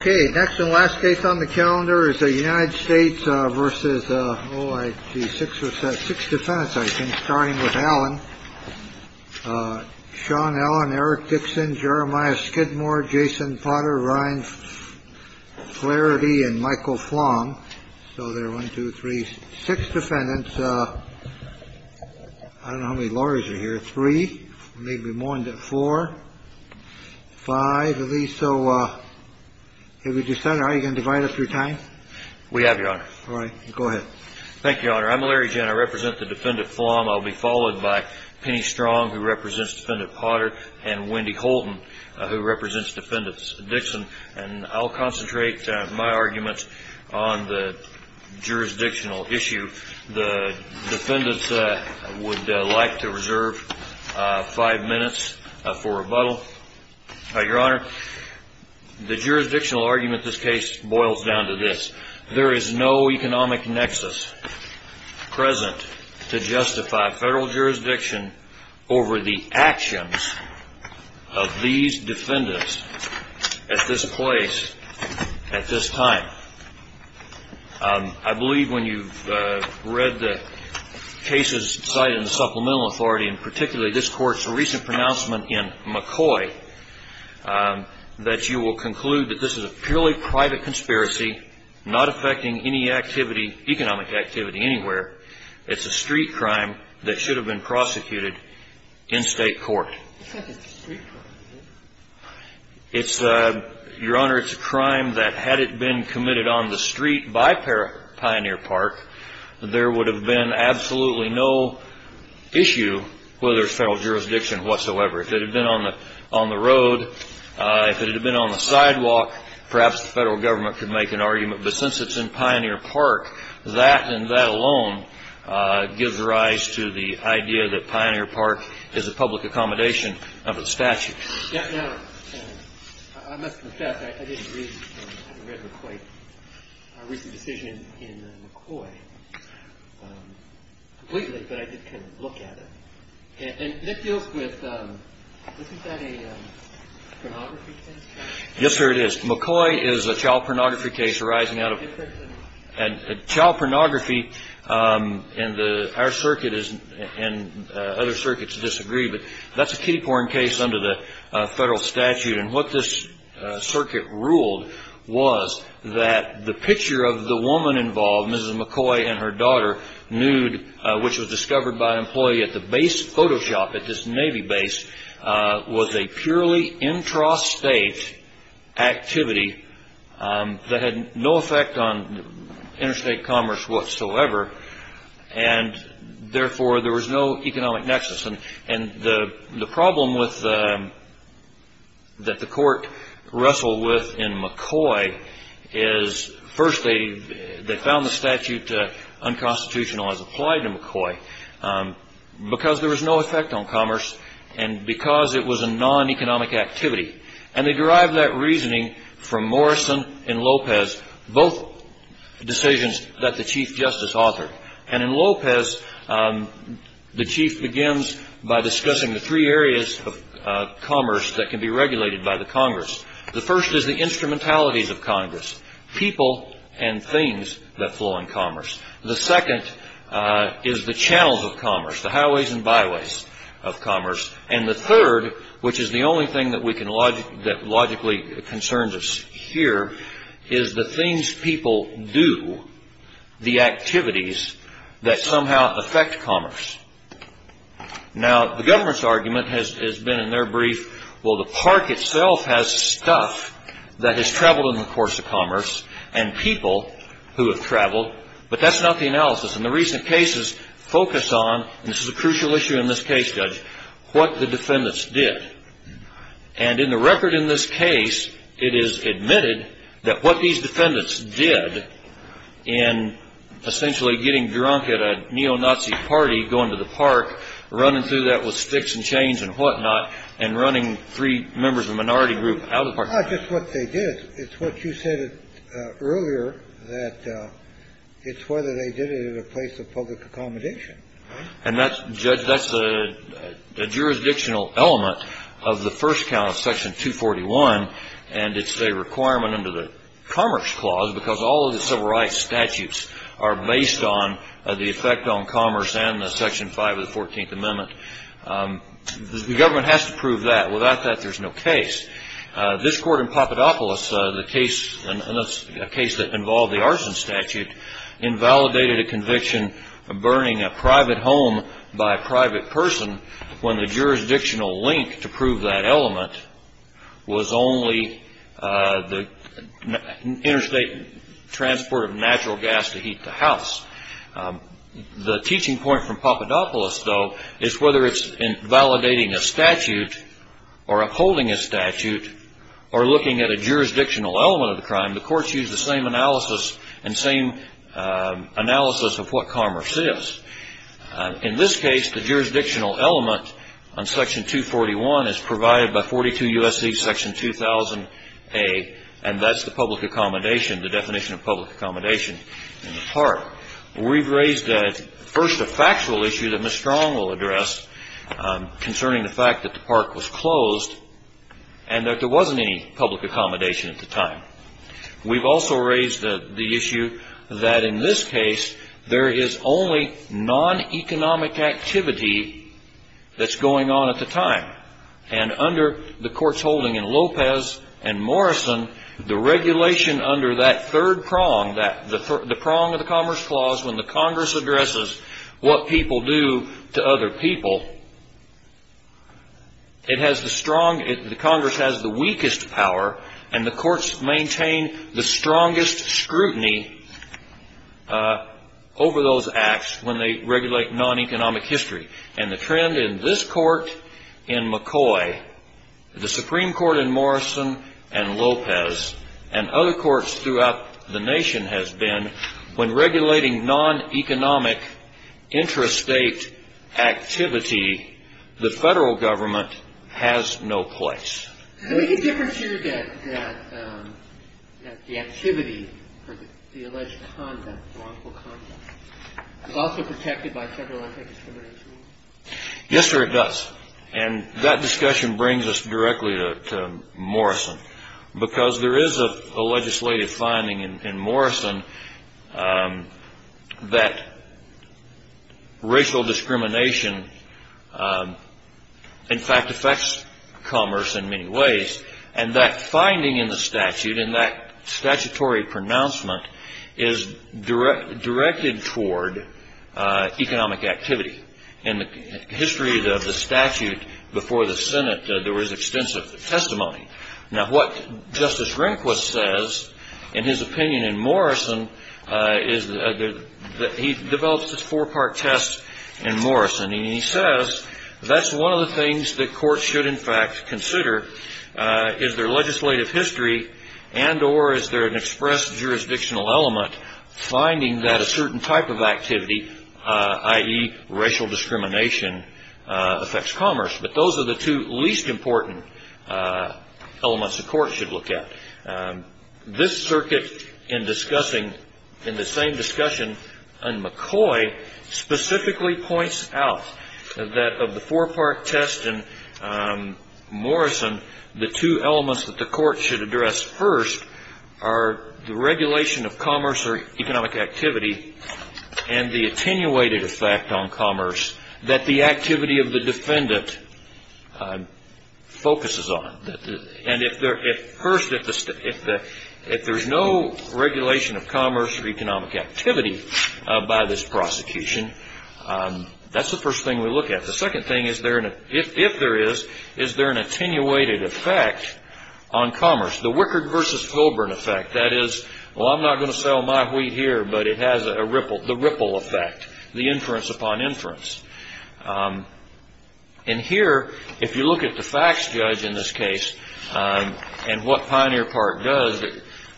OK, next and last case on the calendar is the United States versus the six or six defendants, I think, starting with Alan, Sean Allen, Eric Dixon, Jeremiah Skidmore, Jason Potter, Ryan Flaherty and Michael Flong. So they're one, two, three, six defendants. I don't know how many lawyers are here. Three, maybe more than four, five of these. So if you decide you can divide up your time. We have your honor. All right. Go ahead. Thank you, Your Honor. I'm Larry Jenner. I represent the defendant. I'll be followed by Penny Strong, who represents defendant Potter and Wendy Holden, who represents defendants Dixon. And I'll concentrate my arguments on the jurisdictional issue. The defendants would like to reserve five minutes for rebuttal. Your Honor, the jurisdictional argument this case boils down to this. There is no economic nexus present to justify federal jurisdiction over the actions of these defendants at this place at this time. I believe when you've read the cases cited in the Supplemental Authority, and particularly this Court's recent pronouncement in McCoy, that you will conclude that this is a purely private conspiracy, not affecting any activity, economic activity anywhere. It's a street crime that should have been prosecuted in State court. It's not just a street crime, is it? It's, Your Honor, it's a crime that had it been committed on the street by Pioneer Park, there would have been absolutely no issue whether it's federal jurisdiction whatsoever. If it had been on the road, if it had been on the sidewalk, perhaps the federal government could make an argument. But since it's in Pioneer Park, that and that alone gives rise to the idea that Pioneer Park is a public accommodation of a statute. Now, I must confess, I didn't read McCoy's recent decision in McCoy completely, but I did kind of look at it. And that deals with, isn't that a pornography case? Yes, sir, it is. McCoy is a child pornography case arising out of, and child pornography in our circuit and other circuits disagree, but that's a kiddie porn case under the federal statute. And what this circuit ruled was that the picture of the woman involved, Mrs. McCoy and her daughter, nude, which was discovered by an employee at the base photo shop at this Navy base, was a purely intrastate activity that had no effect on interstate commerce whatsoever. And therefore, there was no economic nexus. And the problem that the court wrestled with in McCoy is, first, they found the statute unconstitutional as applied to McCoy because there was no effect on commerce and because it was a non-economic activity. And they derived that reasoning from Morrison and Lopez, both decisions that the Chief Justice authored. And in Lopez, the Chief begins by discussing the three areas of commerce that can be regulated by the Congress. The first is the instrumentalities of Congress. People and things that flow in commerce. The second is the channels of commerce, the highways and byways of commerce. And the third, which is the only thing that logically concerns us here, is the things people do, the activities that somehow affect commerce. Now, the government's argument has been in their brief, well, the park itself has stuff that has traveled in the course of commerce, and people who have traveled, but that's not the analysis. And the recent cases focus on, and this is a crucial issue in this case, Judge, what the defendants did. And in the record in this case, it is admitted that what these defendants did in essentially getting drunk at a neo-Nazi party, going to the park, running through that with sticks and chains and whatnot, and running three members of a minority group out of the park. No, just what they did. It's what you said earlier that it's whether they did it at a place of public accommodation. And that's, Judge, that's a jurisdictional element of the first count of Section 241. And it's a requirement under the Commerce Clause because all of the civil rights statutes are based on the effect on commerce and the Section 5 of the 14th Amendment. The government has to prove that. Without that, there's no case. This court in Papadopoulos, the case, a case that involved the arson statute, invalidated a conviction of burning a private home by a private person when the jurisdictional link to prove that element was only the interstate transport of natural gas to heat the house. The teaching point from Papadopoulos, though, is whether it's in validating a statute or upholding a statute or looking at a jurisdictional element of the crime, the courts use the same analysis and same analysis of what commerce is. In this case, the jurisdictional element on Section 241 is provided by 42 U.S.C. Section 2000A, and that's the public accommodation, the definition of public accommodation in the park. We've raised, first, a factual issue that Ms. Strong will address concerning the fact that the park was closed and that there wasn't any public accommodation at the time. We've also raised the issue that in this case, there is only non-economic activity that's going on at the time. And under the court's holding in Lopez and Morrison, the regulation under that third prong, the prong of the Commerce Clause when the Congress addresses what people do to other people, it has the strong, the Congress has the weakest power, and the courts maintain the strongest scrutiny over those acts when they regulate non-economic history. And the trend in this court in McCoy, the Supreme Court in Morrison and Lopez, and other courts throughout the nation has been when regulating non-economic intrastate activity, the federal government has no place. The only difference here is that the activity, the alleged conduct, the wrongful conduct is also protected by federal anti-discrimination law. Yes, sir, it does. And that discussion brings us directly to Morrison, because there is a legislative finding in Morrison that racial discrimination in fact affects commerce in many ways. And that finding in the statute, in that statutory pronouncement, is directed toward economic activity. In the history of the statute before the Senate, there was extensive testimony. Now, what Justice Rehnquist says, in his opinion in Morrison, is that he develops this four-part test in Morrison. And he says that's one of the things that courts should, in fact, consider is their legislative history and or is there an express jurisdictional element finding that a certain type of activity, i.e. racial discrimination, affects commerce. But those are the two least important elements the court should look at. This circuit in discussing, in the same discussion on McCoy, specifically points out that of the four-part test in Morrison, the two elements that the court should address first are the regulation of commerce or economic activity and the attenuated effect on commerce that the activity of the defendant focuses on. And first, if there's no regulation of commerce or economic activity by this prosecution, that's the first thing we look at. The second thing is if there is, is there an attenuated effect on commerce? The Wickard versus Holborn effect, that is, well, I'm not going to sell my wheat here, but it has a ripple, the ripple effect, the inference upon inference. And here, if you look at the facts judge in this case and what Pioneer Park does,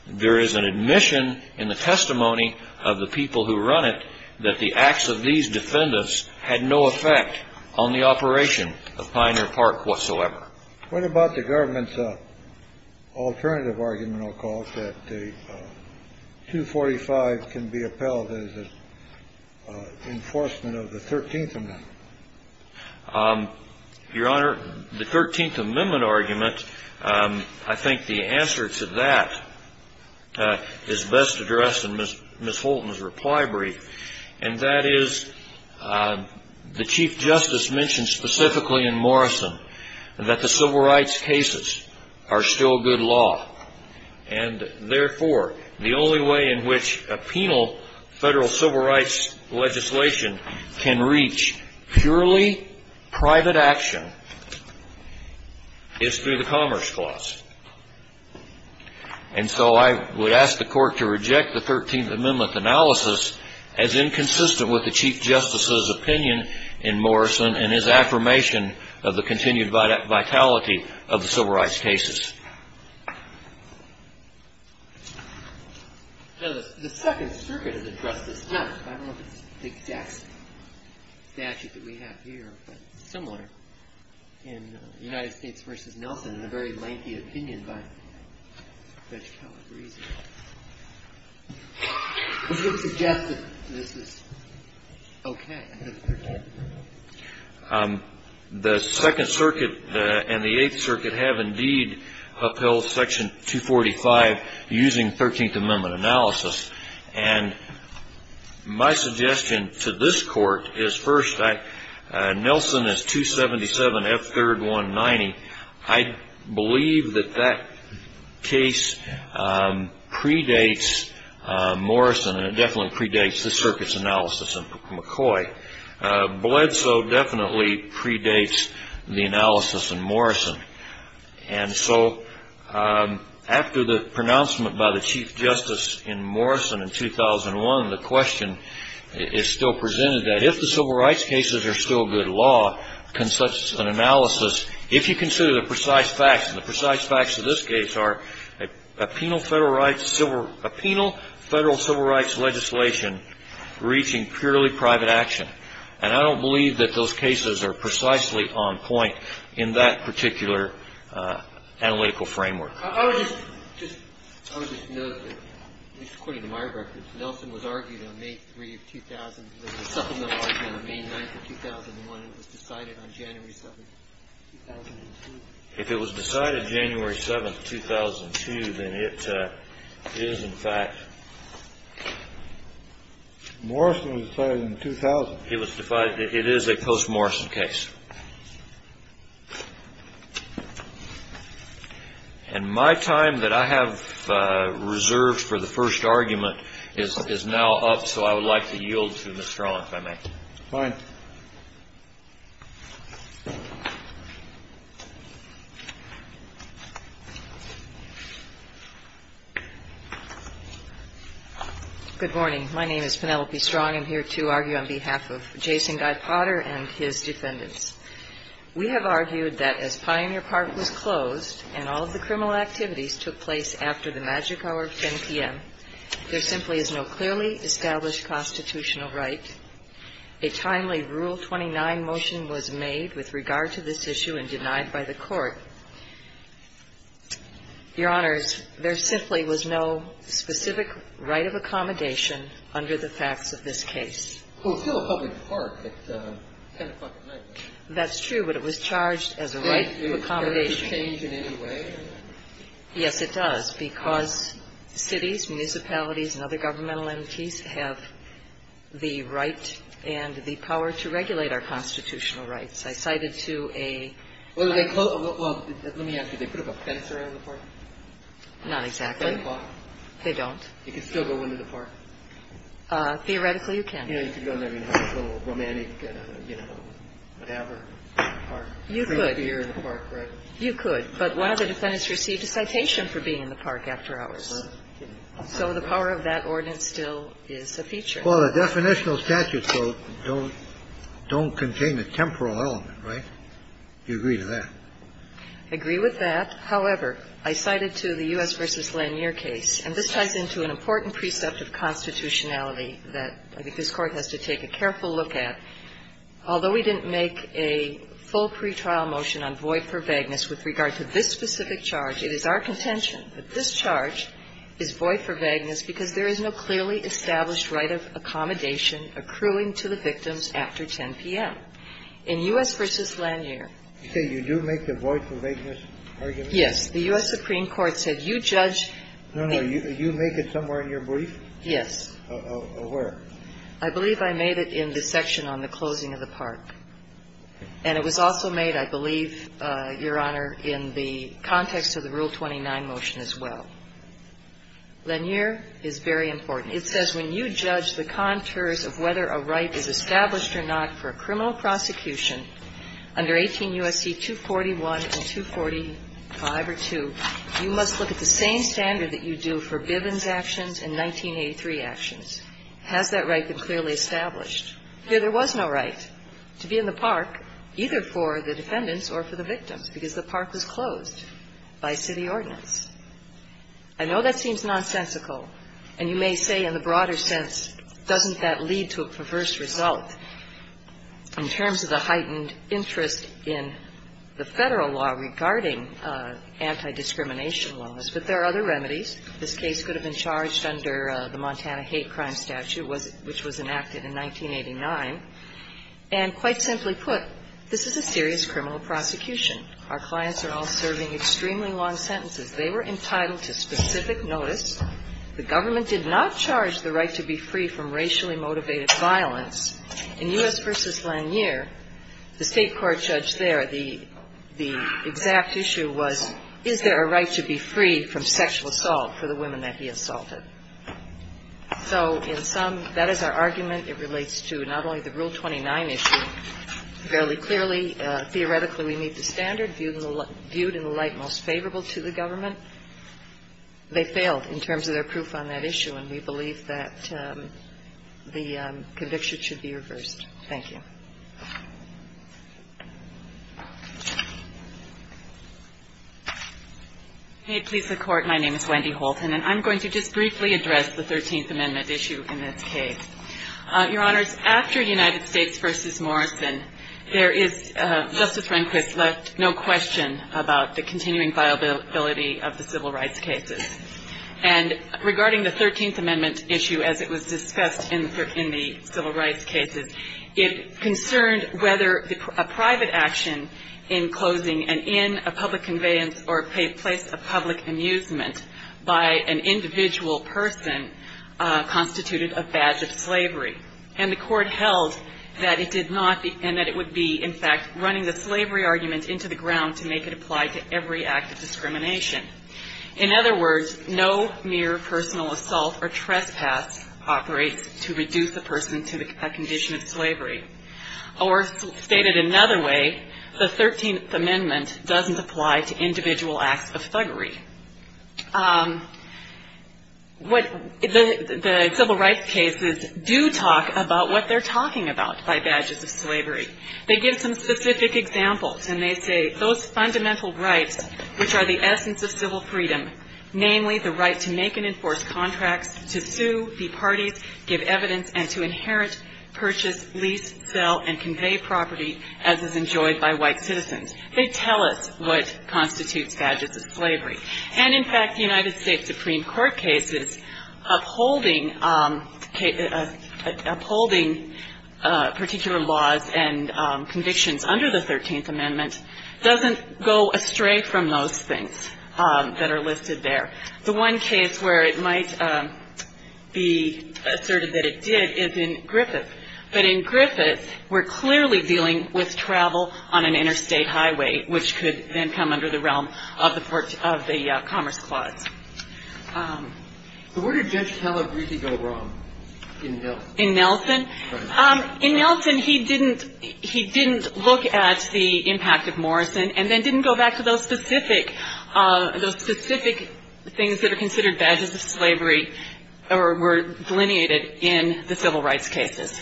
there is an admission in the testimony of the people who run it that the acts of these defendants had no effect on the operation of Pioneer Park whatsoever. What about the government's alternative argument, I'll call it, that the 245 can be upheld as an enforcement of the 13th Amendment? Your Honor, the 13th Amendment argument, I think the answer to that is best addressed in Ms. Holton's reply brief, and that is the Chief Justice mentioned specifically in Morrison that the civil rights cases are still good law. And therefore, the only way in which a penal federal civil rights legislation can reach purely private action is through the Commerce Clause. And so I would ask the Court to reject the 13th Amendment analysis as inconsistent with the Chief Justice's opinion in Morrison and his affirmation of the continued vitality of the civil rights cases. Now, the Second Circuit has addressed this, not, I don't know if it's the exact statute that we have here, but similar, in United States v. Nelson in a very lengthy opinion by Judge Calabrese, does it suggest that this is okay? The Second Circuit and the Eighth Circuit have, indeed, upheld Section 245 using 13th Amendment analysis. And my suggestion to this Court is, first, Nelson is 277F3190. I believe that that case predates Morrison, and it definitely predates the Circuit's analysis in McCoy. Bledsoe definitely predates the analysis in Morrison. And so after the pronouncement by the Chief Justice in Morrison in 2001, the question is still presented that if the civil rights cases are still good law, can such an analysis, if you consider the precise facts, and the precise facts of this case are a penal federal civil rights legislation reaching purely private action. And I don't believe that those cases are precisely on point in that particular analytical framework. I would just note that, at least according to my records, Nelson was argued on May 3, 2000, there was a supplemental argument on May 9, 2001, and it was decided on January 7, 2002. If it was decided January 7, 2002, then it is, in fact. Morrison was decided in 2000. It was decided. It is a post-Morrison case. And my time that I have reserved for the first argument is now up, so I would like to yield to Ms. Strawn, if I may. Fine. Good morning. My name is Penelope Strawn. I'm here to argue on behalf of Jason Guy Potter and his defendants. We have argued that as Pioneer Park was closed and all of the criminal activities took place after the magic hour of 10 p.m., there simply is no clearly established constitutional right. A timely Rule 29 motion was made with regard to this issue and denied by the Court. Your Honors, there simply was no specific right of accommodation under the facts of this case. Well, it's still a public park at 10 o'clock at night. That's true, but it was charged as a right of accommodation. Does it change in any way? Yes, it does, because cities, municipalities, and other governmental entities have the right and the power to regulate our constitutional rights. I cited to a ---- Well, let me ask you. They put up a fence around the park? Not exactly. 10 o'clock? They don't. You can still go into the park? Theoretically, you can. You know, you can go in there and have a little romantic, you know, whatever, park, drink a beer in the park, right? You could. But one of the defendants received a citation for being in the park after hours. So the power of that ordinance still is a feature. Well, the definitional statutes, though, don't contain a temporal element, right? Do you agree with that? I agree with that. However, I cited to the U.S. v. Lanier case, and this ties into an important precept of constitutionality that I think this Court has to take a careful look at. Although we didn't make a full pretrial motion on Voight v. Vagnas with regard to this specific charge, it is our contention that this charge, is Voight v. Vagnas because there is no clearly established right of accommodation accruing to the victims after 10 p.m. In U.S. v. Lanier. You say you do make the Voight v. Vagnas argument? Yes. The U.S. Supreme Court said you judge. No, no. You make it somewhere in your brief? Yes. Where? I believe I made it in the section on the closing of the park. And it was also made, I believe, Your Honor, in the context of the Rule 29 motion as well. Lanier is very important. It says when you judge the contours of whether a right is established or not for a criminal prosecution under 18 U.S.C. 241 and 245 or 2, you must look at the same standard that you do for Bivens actions and 1983 actions. Has that right been clearly established? Here there was no right to be in the park, either for the defendants or for the victims, because the park was closed by city ordinance. I know that seems nonsensical, and you may say in the broader sense, doesn't that lead to a perverse result in terms of the heightened interest in the Federal law regarding anti-discrimination laws? But there are other remedies. This case could have been charged under the Montana Hate Crime Statute, which was enacted in 1989. And quite simply put, this is a serious criminal prosecution. Our clients are all serving extremely long sentences. They were entitled to specific notice. The government did not charge the right to be free from racially motivated violence. In U.S. v. Lanier, the State Court judge there, the exact issue was, is there a right to be free from sexual assault for the women that he assaulted? So in sum, that is our argument. It relates to not only the Rule 29 issue. Fairly clearly, theoretically, we meet the standard viewed in the light most favorable to the government. They failed in terms of their proof on that issue, and we believe that the conviction should be reversed. Wendy Houlton, Chief Justice of the U.S. Supreme Court, U.S. Supreme Court of New York. May it please the Court, my name is Wendy Houlton, and I'm going to just briefly address the Thirteenth Amendment issue in this case. Your Honors, after United States v. Morrison, there is, Justice Rehnquist left no question about the continuing viability of the civil rights cases. And regarding the Thirteenth Amendment issue as it was discussed in the civil rights cases, it concerned whether a private action in closing an inn, a public conveyance, or place of public amusement by an individual person constituted a badge of slavery. And the Court held that it did not, and that it would be, in fact, running the slavery argument into the ground to make it apply to every act of discrimination. In other words, no mere personal assault or trespass operates to reduce a person to a condition of slavery. Or stated another way, the Thirteenth Amendment doesn't apply to individual acts of thuggery. What the civil rights cases do talk about what they're talking about by badges of slavery. They give some specific examples, and they say, those fundamental rights which are the essence of civil freedom, namely the right to make and enforce contracts, to sue, be parties, give evidence, and to inherit, purchase, lease, sell, and convey property as is enjoyed by white citizens. They tell us what constitutes badges of slavery. And in fact, the United States Supreme Court cases upholding particular laws and provisions and convictions under the Thirteenth Amendment doesn't go astray from those things that are listed there. The one case where it might be asserted that it did is in Griffith. But in Griffith, we're clearly dealing with travel on an interstate highway, which could then come under the realm of the Commerce Clause. So where did Judge Calabrese go wrong in Nelson? In Nelson, he didn't look at the impact of Morrison and then didn't go back to those specific things that are considered badges of slavery or were delineated in the civil rights cases.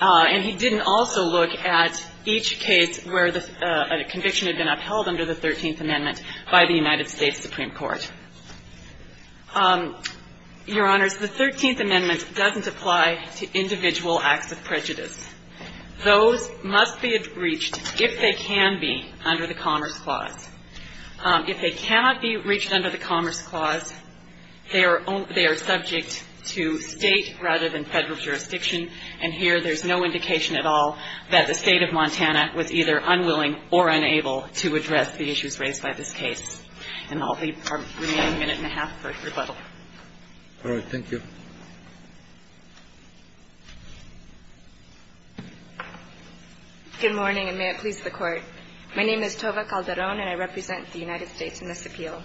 And he didn't also look at each case where the conviction had been upheld under the Thirteenth Amendment by the United States Supreme Court. Your Honors, the Thirteenth Amendment doesn't apply to individual acts of thuggery. It doesn't apply to individual acts of prejudice. Those must be reached, if they can be, under the Commerce Clause. If they cannot be reached under the Commerce Clause, they are subject to State rather than Federal jurisdiction. And here, there's no indication at all that the State of Montana was either unwilling or unable to address the issues raised by this case. And I'll leave our remaining minute and a half for rebuttal. All right. Thank you. Good morning, and may it please the Court. My name is Tova Calderon, and I represent the United States in this appeal.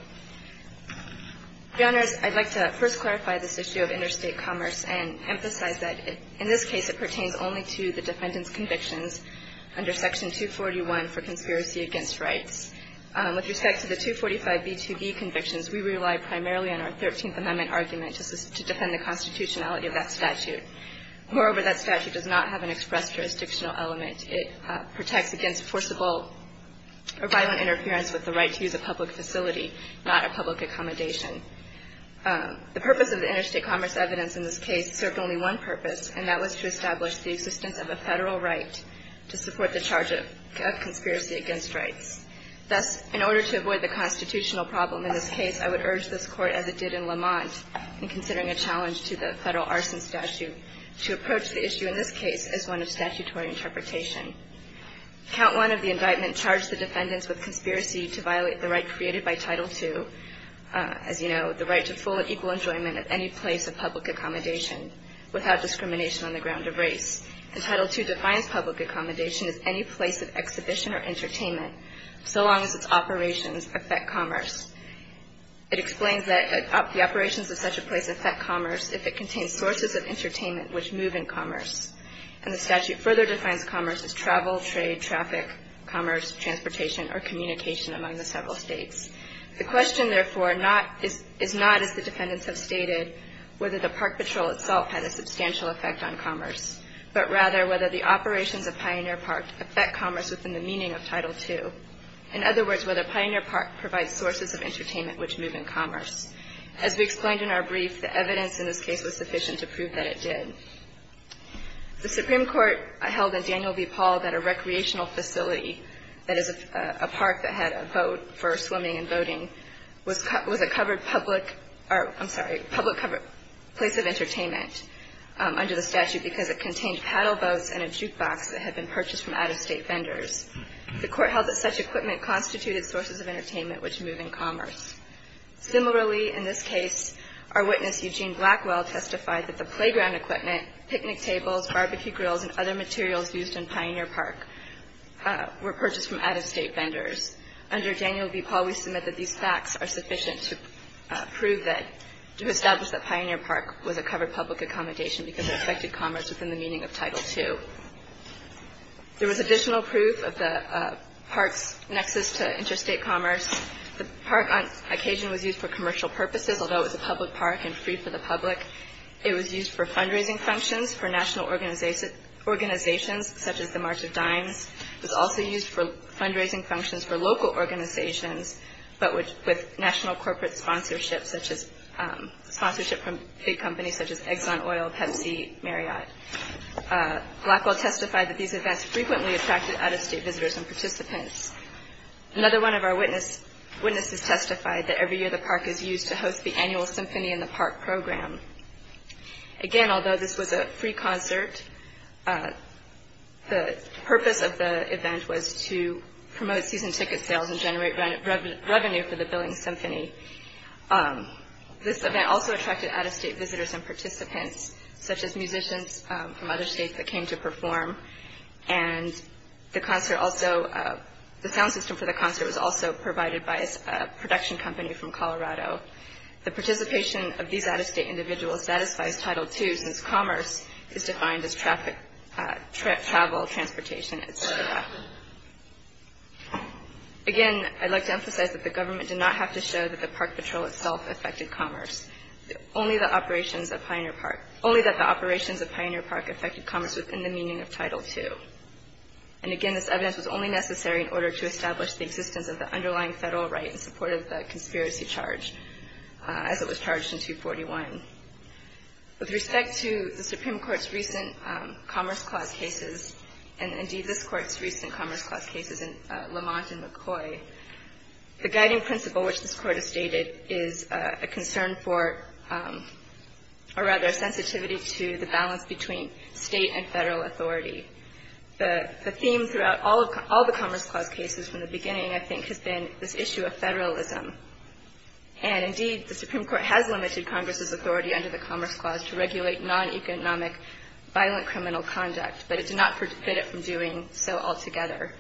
Your Honors, I'd like to first clarify this issue of interstate commerce and emphasize that, in this case, it pertains only to the defendant's convictions under Section 241 for conspiracy against rights. With respect to the 245B2B convictions, we rely primarily on our Thirteenth Amendment argument to defend the constitutionality of that statute. Moreover, that statute does not have an express jurisdictional element. It protects against forcible or violent interference with the right to use a public facility, not a public accommodation. The purpose of the interstate commerce evidence in this case served only one purpose, and that was to establish the existence of a Federal right to support the charge of conspiracy against rights. Thus, in order to avoid the constitutional problem in this case, I would urge this Court, as it did in Lamont in considering a challenge to the Federal arson statute, to approach the issue in this case as one of statutory interpretation. Count one of the indictment charged the defendants with conspiracy to violate the right created by Title II, as you know, the right to full and equal enjoyment at any place of public accommodation without discrimination on the ground of race. And Title II defines public accommodation as any place of exhibition or so long as its operations affect commerce. It explains that the operations of such a place affect commerce if it contains sources of entertainment which move in commerce. And the statute further defines commerce as travel, trade, traffic, commerce, transportation, or communication among the several states. The question, therefore, is not, as the defendants have stated, whether the park patrol itself had a substantial effect on commerce, but rather whether the operations of Pioneer Park affect commerce within the meaning of Title II. In other words, whether Pioneer Park provides sources of entertainment which move in commerce. As we explained in our brief, the evidence in this case was sufficient to prove that it did. The Supreme Court held in Daniel v. Paul that a recreational facility, that is, a park that had a boat for swimming and boating, was a covered public or, I'm sorry, public covered place of entertainment under the statute because it contained paddle boats and a jukebox that had been purchased from out-of-state vendors. The court held that such equipment constituted sources of entertainment which move in commerce. Similarly, in this case, our witness, Eugene Blackwell, testified that the playground equipment, picnic tables, barbecue grills, and other materials used in Pioneer Park were purchased from out-of-state vendors. Under Daniel v. Paul, we submit that these facts are sufficient to prove that, to establish that Pioneer Park was a covered public accommodation because it contained the meaning of Title II. There was additional proof of the park's nexus to interstate commerce. The park, on occasion, was used for commercial purposes, although it was a public park and free for the public. It was used for fundraising functions for national organizations, such as the March of Dimes. It was also used for fundraising functions for local organizations, but with national corporate sponsorships, such as sponsorship from big companies, such as Blackwell testified that these events frequently attracted out-of-state visitors and participants. Another one of our witnesses testified that every year the park is used to host the annual symphony in the park program. Again, although this was a free concert, the purpose of the event was to promote season ticket sales and generate revenue for the billing symphony. This event also attracted out-of-state visitors and participants, such as musicians from other states that came to perform. The sound system for the concert was also provided by a production company from Colorado. The participation of these out-of-state individuals satisfies Title II since commerce is defined as travel, transportation, etc. Again, I'd like to emphasize that the government did not have to show that the park patrol itself affected commerce. Only that the operations of Pioneer Park affected commerce within the meaning of Title II. And again, this evidence was only necessary in order to establish the existence of the underlying federal right in support of the conspiracy charge as it was charged in 241. With respect to the Supreme Court's recent Commerce Clause cases, and indeed this Court's recent Commerce Clause cases in Lamont and McCoy, the guiding principle, which this Court has stated, is a concern for, or rather a sensitivity to the balance between state and federal authority. The theme throughout all the Commerce Clause cases from the beginning, I think, has been this issue of federalism. And indeed, the Supreme Court has limited Congress's authority under the Commerce Clause to regulate non-economic violent criminal conduct, but it did not forbid it from doing so altogether.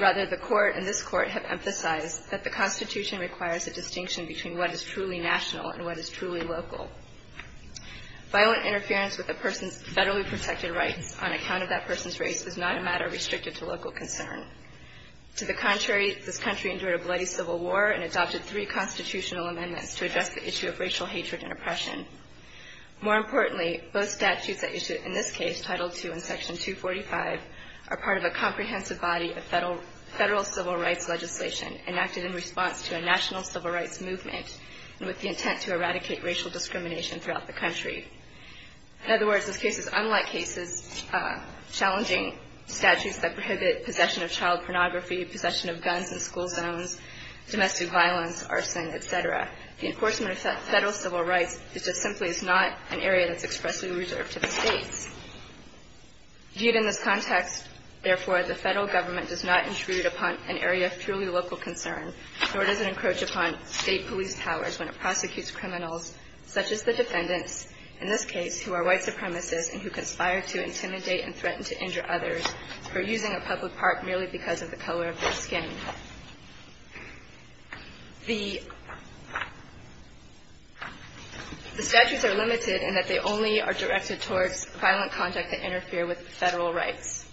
Rather, the Court and this Court have emphasized that the Constitution requires a distinction between what is truly national and what is truly local. Violent interference with a person's federally protected rights on account of that person's race is not a matter restricted to local concern. To the contrary, this country endured a bloody civil war and adopted three constitutional amendments to address the issue of racial hatred and oppression. More importantly, both statutes that issued in this case, Title II and Section 245, are part of a comprehensive body of federal civil rights legislation enacted in response to a national civil rights movement with the intent to eradicate racial discrimination throughout the country. In other words, in cases unlike cases challenging statutes that prohibit possession of child pornography, possession of guns in school zones, domestic violence, arson, et cetera, the enforcement of federal civil rights is just simply not an area that's expressly reserved to the states. Viewed in this context, therefore, the federal government does not intrude upon an area of truly local concern, nor does it encroach upon state police powers when it prosecutes criminals such as the defendants, in this case, who are white supremacists and who conspire to intimidate and threaten to injure others for using a public park merely because of the color of their skin. The statutes are limited in that they only are directed towards violent conduct that interfere with federal rights.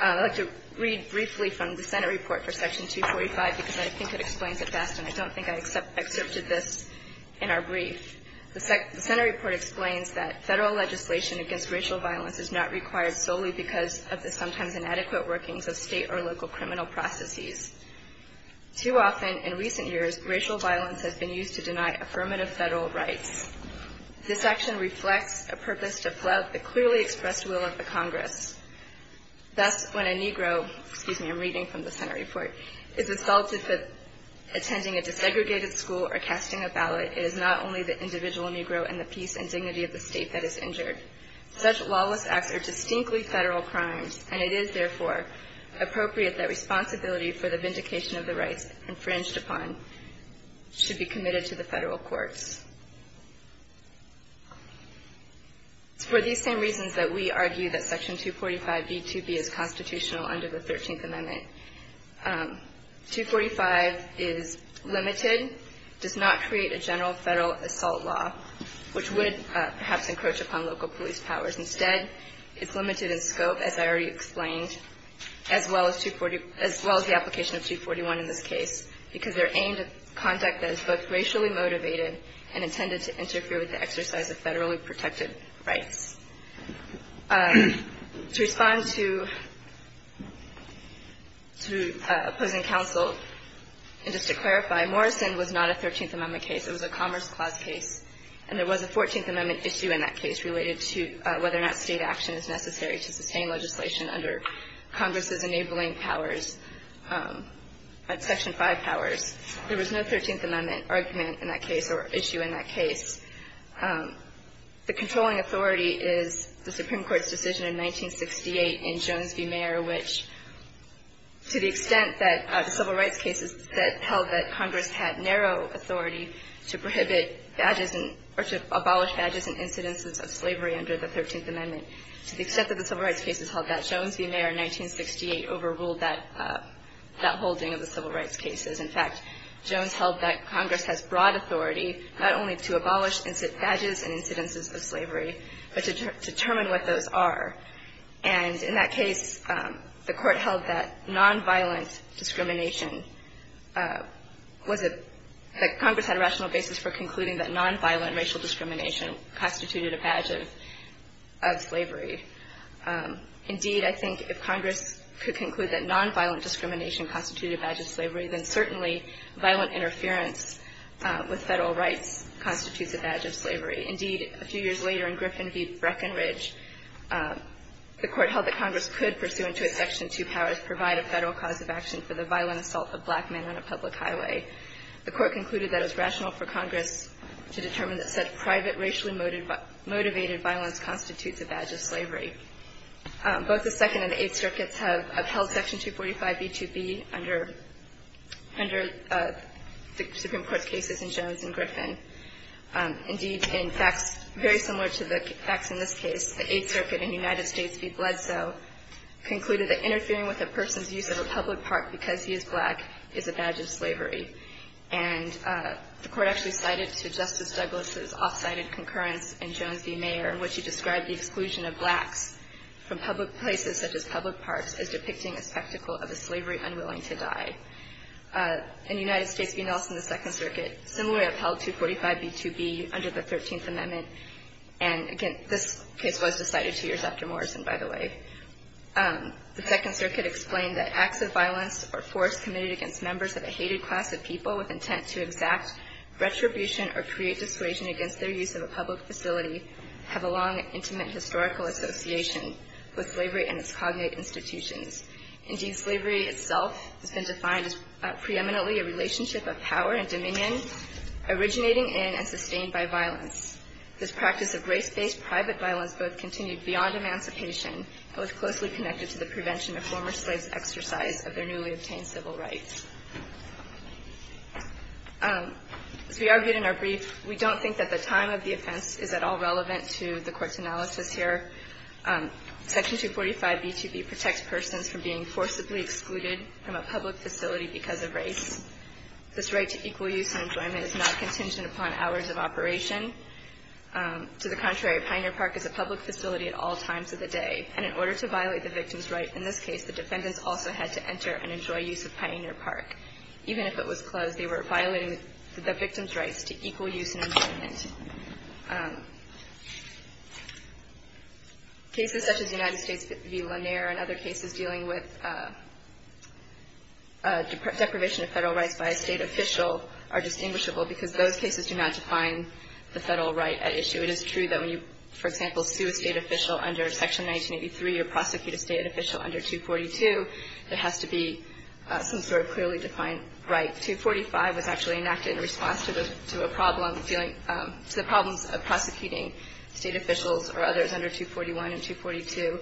I'd like to read briefly from the Senate report for Section 245 because I think it explains it best, and I don't think I excerpted this in our brief. The Senate report explains that federal legislation against racial violence is not required solely because of the sometimes inadequate workings of state or local criminal processes. Too often in recent years, racial violence has been used to deny affirmative federal rights. This action reflects a purpose to flout the clearly expressed will of the Congress. Thus, when a Negro, excuse me, I'm reading from the Senate report, is assaulted for attending a desegregated school or casting a ballot, it is not only the individual Negro and the peace and dignity of the state that is injured. Such lawless acts are distinctly federal crimes, and it is, therefore, appropriate that responsibility for the vindication of the rights infringed upon should be committed to the federal courts. It's for these same reasons that we argue that Section 245b2b is constitutional under the 13th Amendment. 245 is limited, does not create a general federal assault law, which would perhaps encroach upon local police powers. Instead, it's limited in scope as I already explained, as well as the application of 241 in this case, because they're aimed at conduct that is both racially motivated and intended to interfere with the exercise of federally protected rights. To respond to opposing counsel, and just to clarify, Morrison was not a 13th Amendment case. It was a Commerce Clause case. And there was a 14th Amendment issue in that case related to whether or not state action is necessary to sustain legislation under Congress's enabling powers, Section 5 powers. There was no 13th Amendment argument in that case, or issue in that case. The controlling authority is the Supreme Court's decision in 1968 in Jones v. Mayer, which, to the extent that civil rights cases that held that Congress had narrow authority to prohibit badges, or to abolish badges in incidences of slavery under the 13th Amendment, to the extent that the civil rights cases held that, Jones v. Mayer in 1968 overruled that holding of the civil rights cases. In fact, Jones held that Congress has broad authority not only to abolish badges in incidences of slavery, but to determine what those are. And in that case, the Court held that nonviolent discrimination was a, that Congress had a rational basis for concluding that nonviolent discrimination constituted a badge of slavery. Indeed, I think if Congress could conclude that nonviolent discrimination constituted a badge of slavery, then certainly violent interference with federal rights constitutes a badge of slavery. Indeed, a few years later, in Griffin v. Breckenridge, the Court held that Congress could pursue into its Section 2 powers provide a federal cause of action for the violent assault of black men on a public highway. The Court concluded that it was rational for Congress to determine that such private, racially motivated violence constitutes a badge of slavery. Both the Second and the Eighth Circuits have upheld Section 245b2b under the Supreme Court cases in Jones and Griffin. Indeed, in facts very similar to the facts in this case, the Eighth Circuit in the United States v. Bledsoe concluded that interfering with a person's use of slavery, and the Court actually cited to Justice Douglas' off-sided concurrence in Jones v. Mayer in which he described the exclusion of blacks from public places such as public parks as depicting a spectacle of a slavery unwilling to die. In the United States v. Nelson, the Second Circuit similarly upheld 245b2b under the Thirteenth Amendment and, again, this case was decided two years after Morrison, by the way. The Second Circuit explained that acts of violence or force committed against members of a hated class of people with intent to exact retribution or create dissuasion against their use of a public facility have a long and intimate historical association with slavery and its cognate institutions. Indeed, slavery itself has been defined as preeminently a relationship of power and dominion originating in and sustained by violence. This practice of race-based private violence both continued beyond emancipation and was closely connected to the prevention of former slaves' exercise of their newly obtained civil rights. As we argued in our brief, we don't think that the time of the offense is at all relevant to the Court's analysis here. Section 245b2b protects persons from being forcibly excluded from a public facility because of race. This right to equal use and enjoyment is not contingent upon hours of operation. To the contrary, a pioneer park is a public facility at all times of the day, and in order to violate the victim's right in this case, the defendants also had to enter and enjoy use of pioneer park. Even if it was closed, they were violating the victim's rights to equal use and enjoyment. Cases such as United States v. Lanier and other cases dealing with deprivation of federal rights by a state official are distinguishable because those cases do not define the federal right at issue. It is true that when you, for example, sue a state official under 243 or prosecute a state official under 242, there has to be some sort of clearly defined right. 245 was actually enacted in response to a problem dealing to the problems of prosecuting state officials or others under 241 and 242.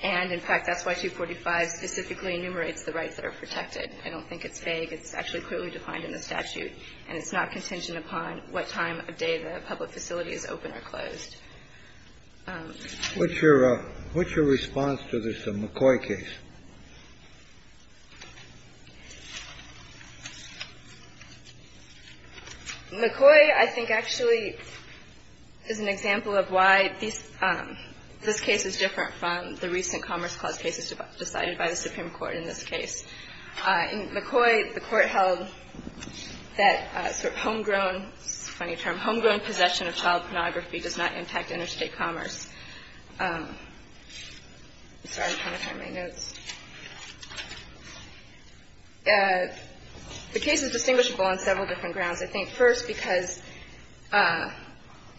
And, in fact, that's why 245 specifically enumerates the rights that are protected. I don't think it's vague. It's actually clearly defined in the statute, and it's not contingent upon what time of day the public facility is open or closed. What's your response to this McCoy case? McCoy, I think, actually is an example of why this case is different from the recent Commerce Clause cases decided by the Supreme Court in this case. In McCoy, the Court held that sort of homegrown, funny term, homegrown possession of child pornography does not impact interstate commerce. Sorry, I'm trying to find my notes. The case is distinguishable on several different grounds. I think, first, because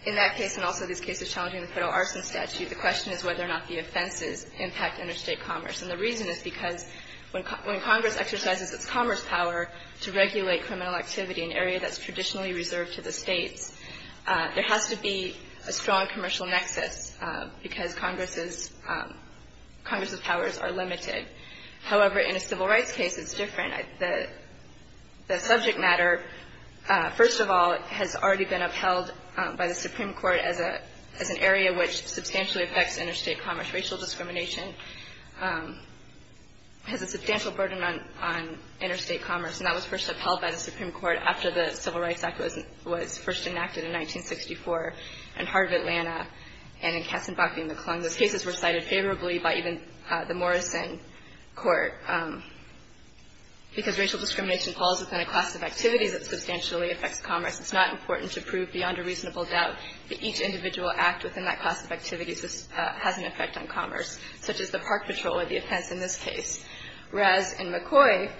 in that case and also these cases challenging the federal arson statute, the question is whether or not the offenses impact interstate commerce. And the reason is because when Congress exercises its commerce power to regulate criminal activity in an area that's traditionally reserved to the states, there has to be a strong commercial nexus because Congress's powers are limited. However, in a civil rights case, it's different. The subject matter, first of all, has already been upheld by the Supreme Court as an area which substantially affects interstate commerce. Racial discrimination has a substantial burden on interstate commerce, and that was first noted in the Supreme Court after the Civil Rights Act was first enacted in 1964 in Hartford, Atlanta, and in Katzenbach v. McClung. Those cases were cited favorably by even the Morrison Court. Because racial discrimination falls within a class of activities that substantially affects commerce, it's not important to prove beyond a reasonable doubt that each individual act within that class of activities has an effect on commerce, such as the park patrol or the offense in this case. Whereas in McCoy,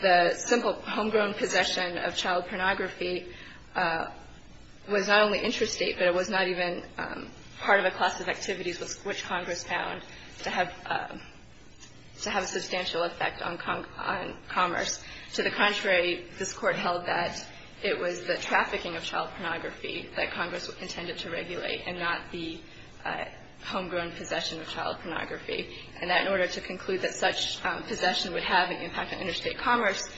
the simple homegrown possession of child pornography was not only interstate, but it was not even part of a class of activities which Congress found to have a substantial effect on commerce. To the contrary, this Court held that it was the trafficking of child pornography that Congress intended to regulate and not the homegrown possession of child pornography. And that in order to conclude that such possession would have an impact on interstate commerce,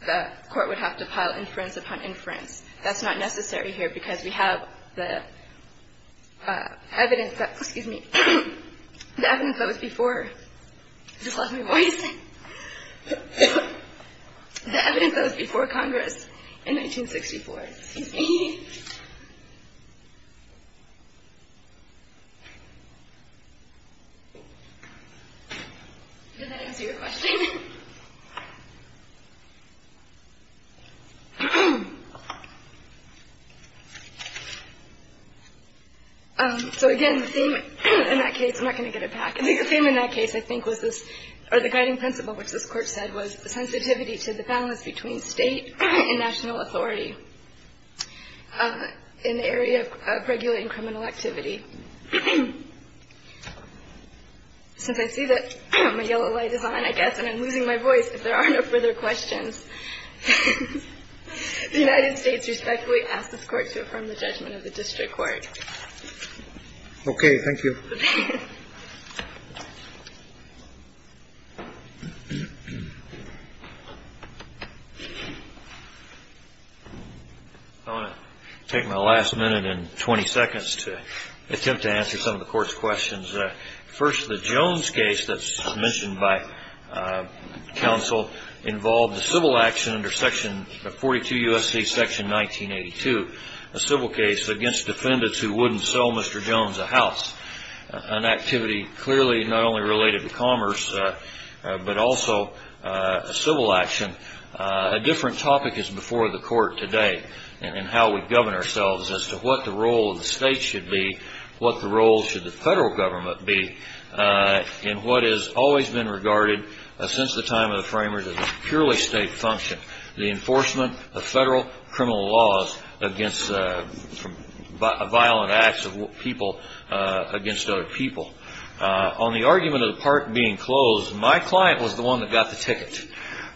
the Court would have to pile inference upon inference. That's not necessary here because we have the evidence that was before Congress in 1964. Excuse me. Did that answer your question? So again, the theme in that case, I'm not going to get it back. I think the theme in that case, I think, was this, or the guiding principle, which this Court said was the sensitivity to the balance between State and national authority in the area of regulating criminal activity. Since I see that my yellow light is on, I guess, and I'm losing my voice, if there are no further questions, the United States respectfully asks this Court to affirm the judgment of the District Court. Okay. Thank you. I want to take my last minute and 20 seconds to attempt to answer some of the Court's questions. First, the Jones case that's mentioned by counsel involved a civil action under section 42 U.S.C. section 1982, a civil case against defendants who wouldn't sell Mr. Jones a house, an activity clearly not only related to commerce but also a civil action. A different topic is before the Court today in how we govern ourselves as to what the role of the State should be, what the role should the federal government be, in what has always been regarded since the time of the framers as a purely State function, the enforcement of federal criminal laws against violent acts of people against other people. On the argument of the park being closed, my client was the one that got the ticket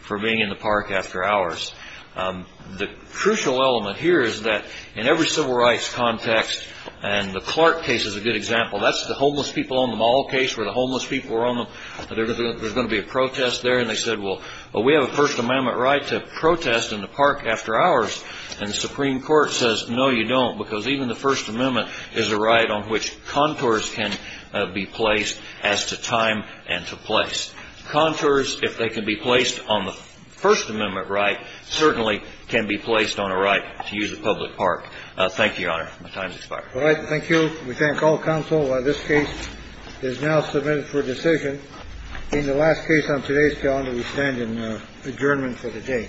for being in the park after hours. The crucial element here is that in every civil rights context, and the Clark case is a good example, that's the homeless people on the mall case where the homeless people were on them, there's going to be a protest there. And they said, well, we have a First Amendment right to protest in the park after hours. And the Supreme Court says, no, you don't, because even the First Amendment is a right on which contours can be placed as to time and to place. Contours, if they can be placed on the First Amendment right, certainly can be placed on a right to use a public park. Thank you, Your Honor. My time has expired. All right. Thank you. We thank all counsel. This case is now submitted for decision in the last case on today's calendar. We stand in adjournment for the day.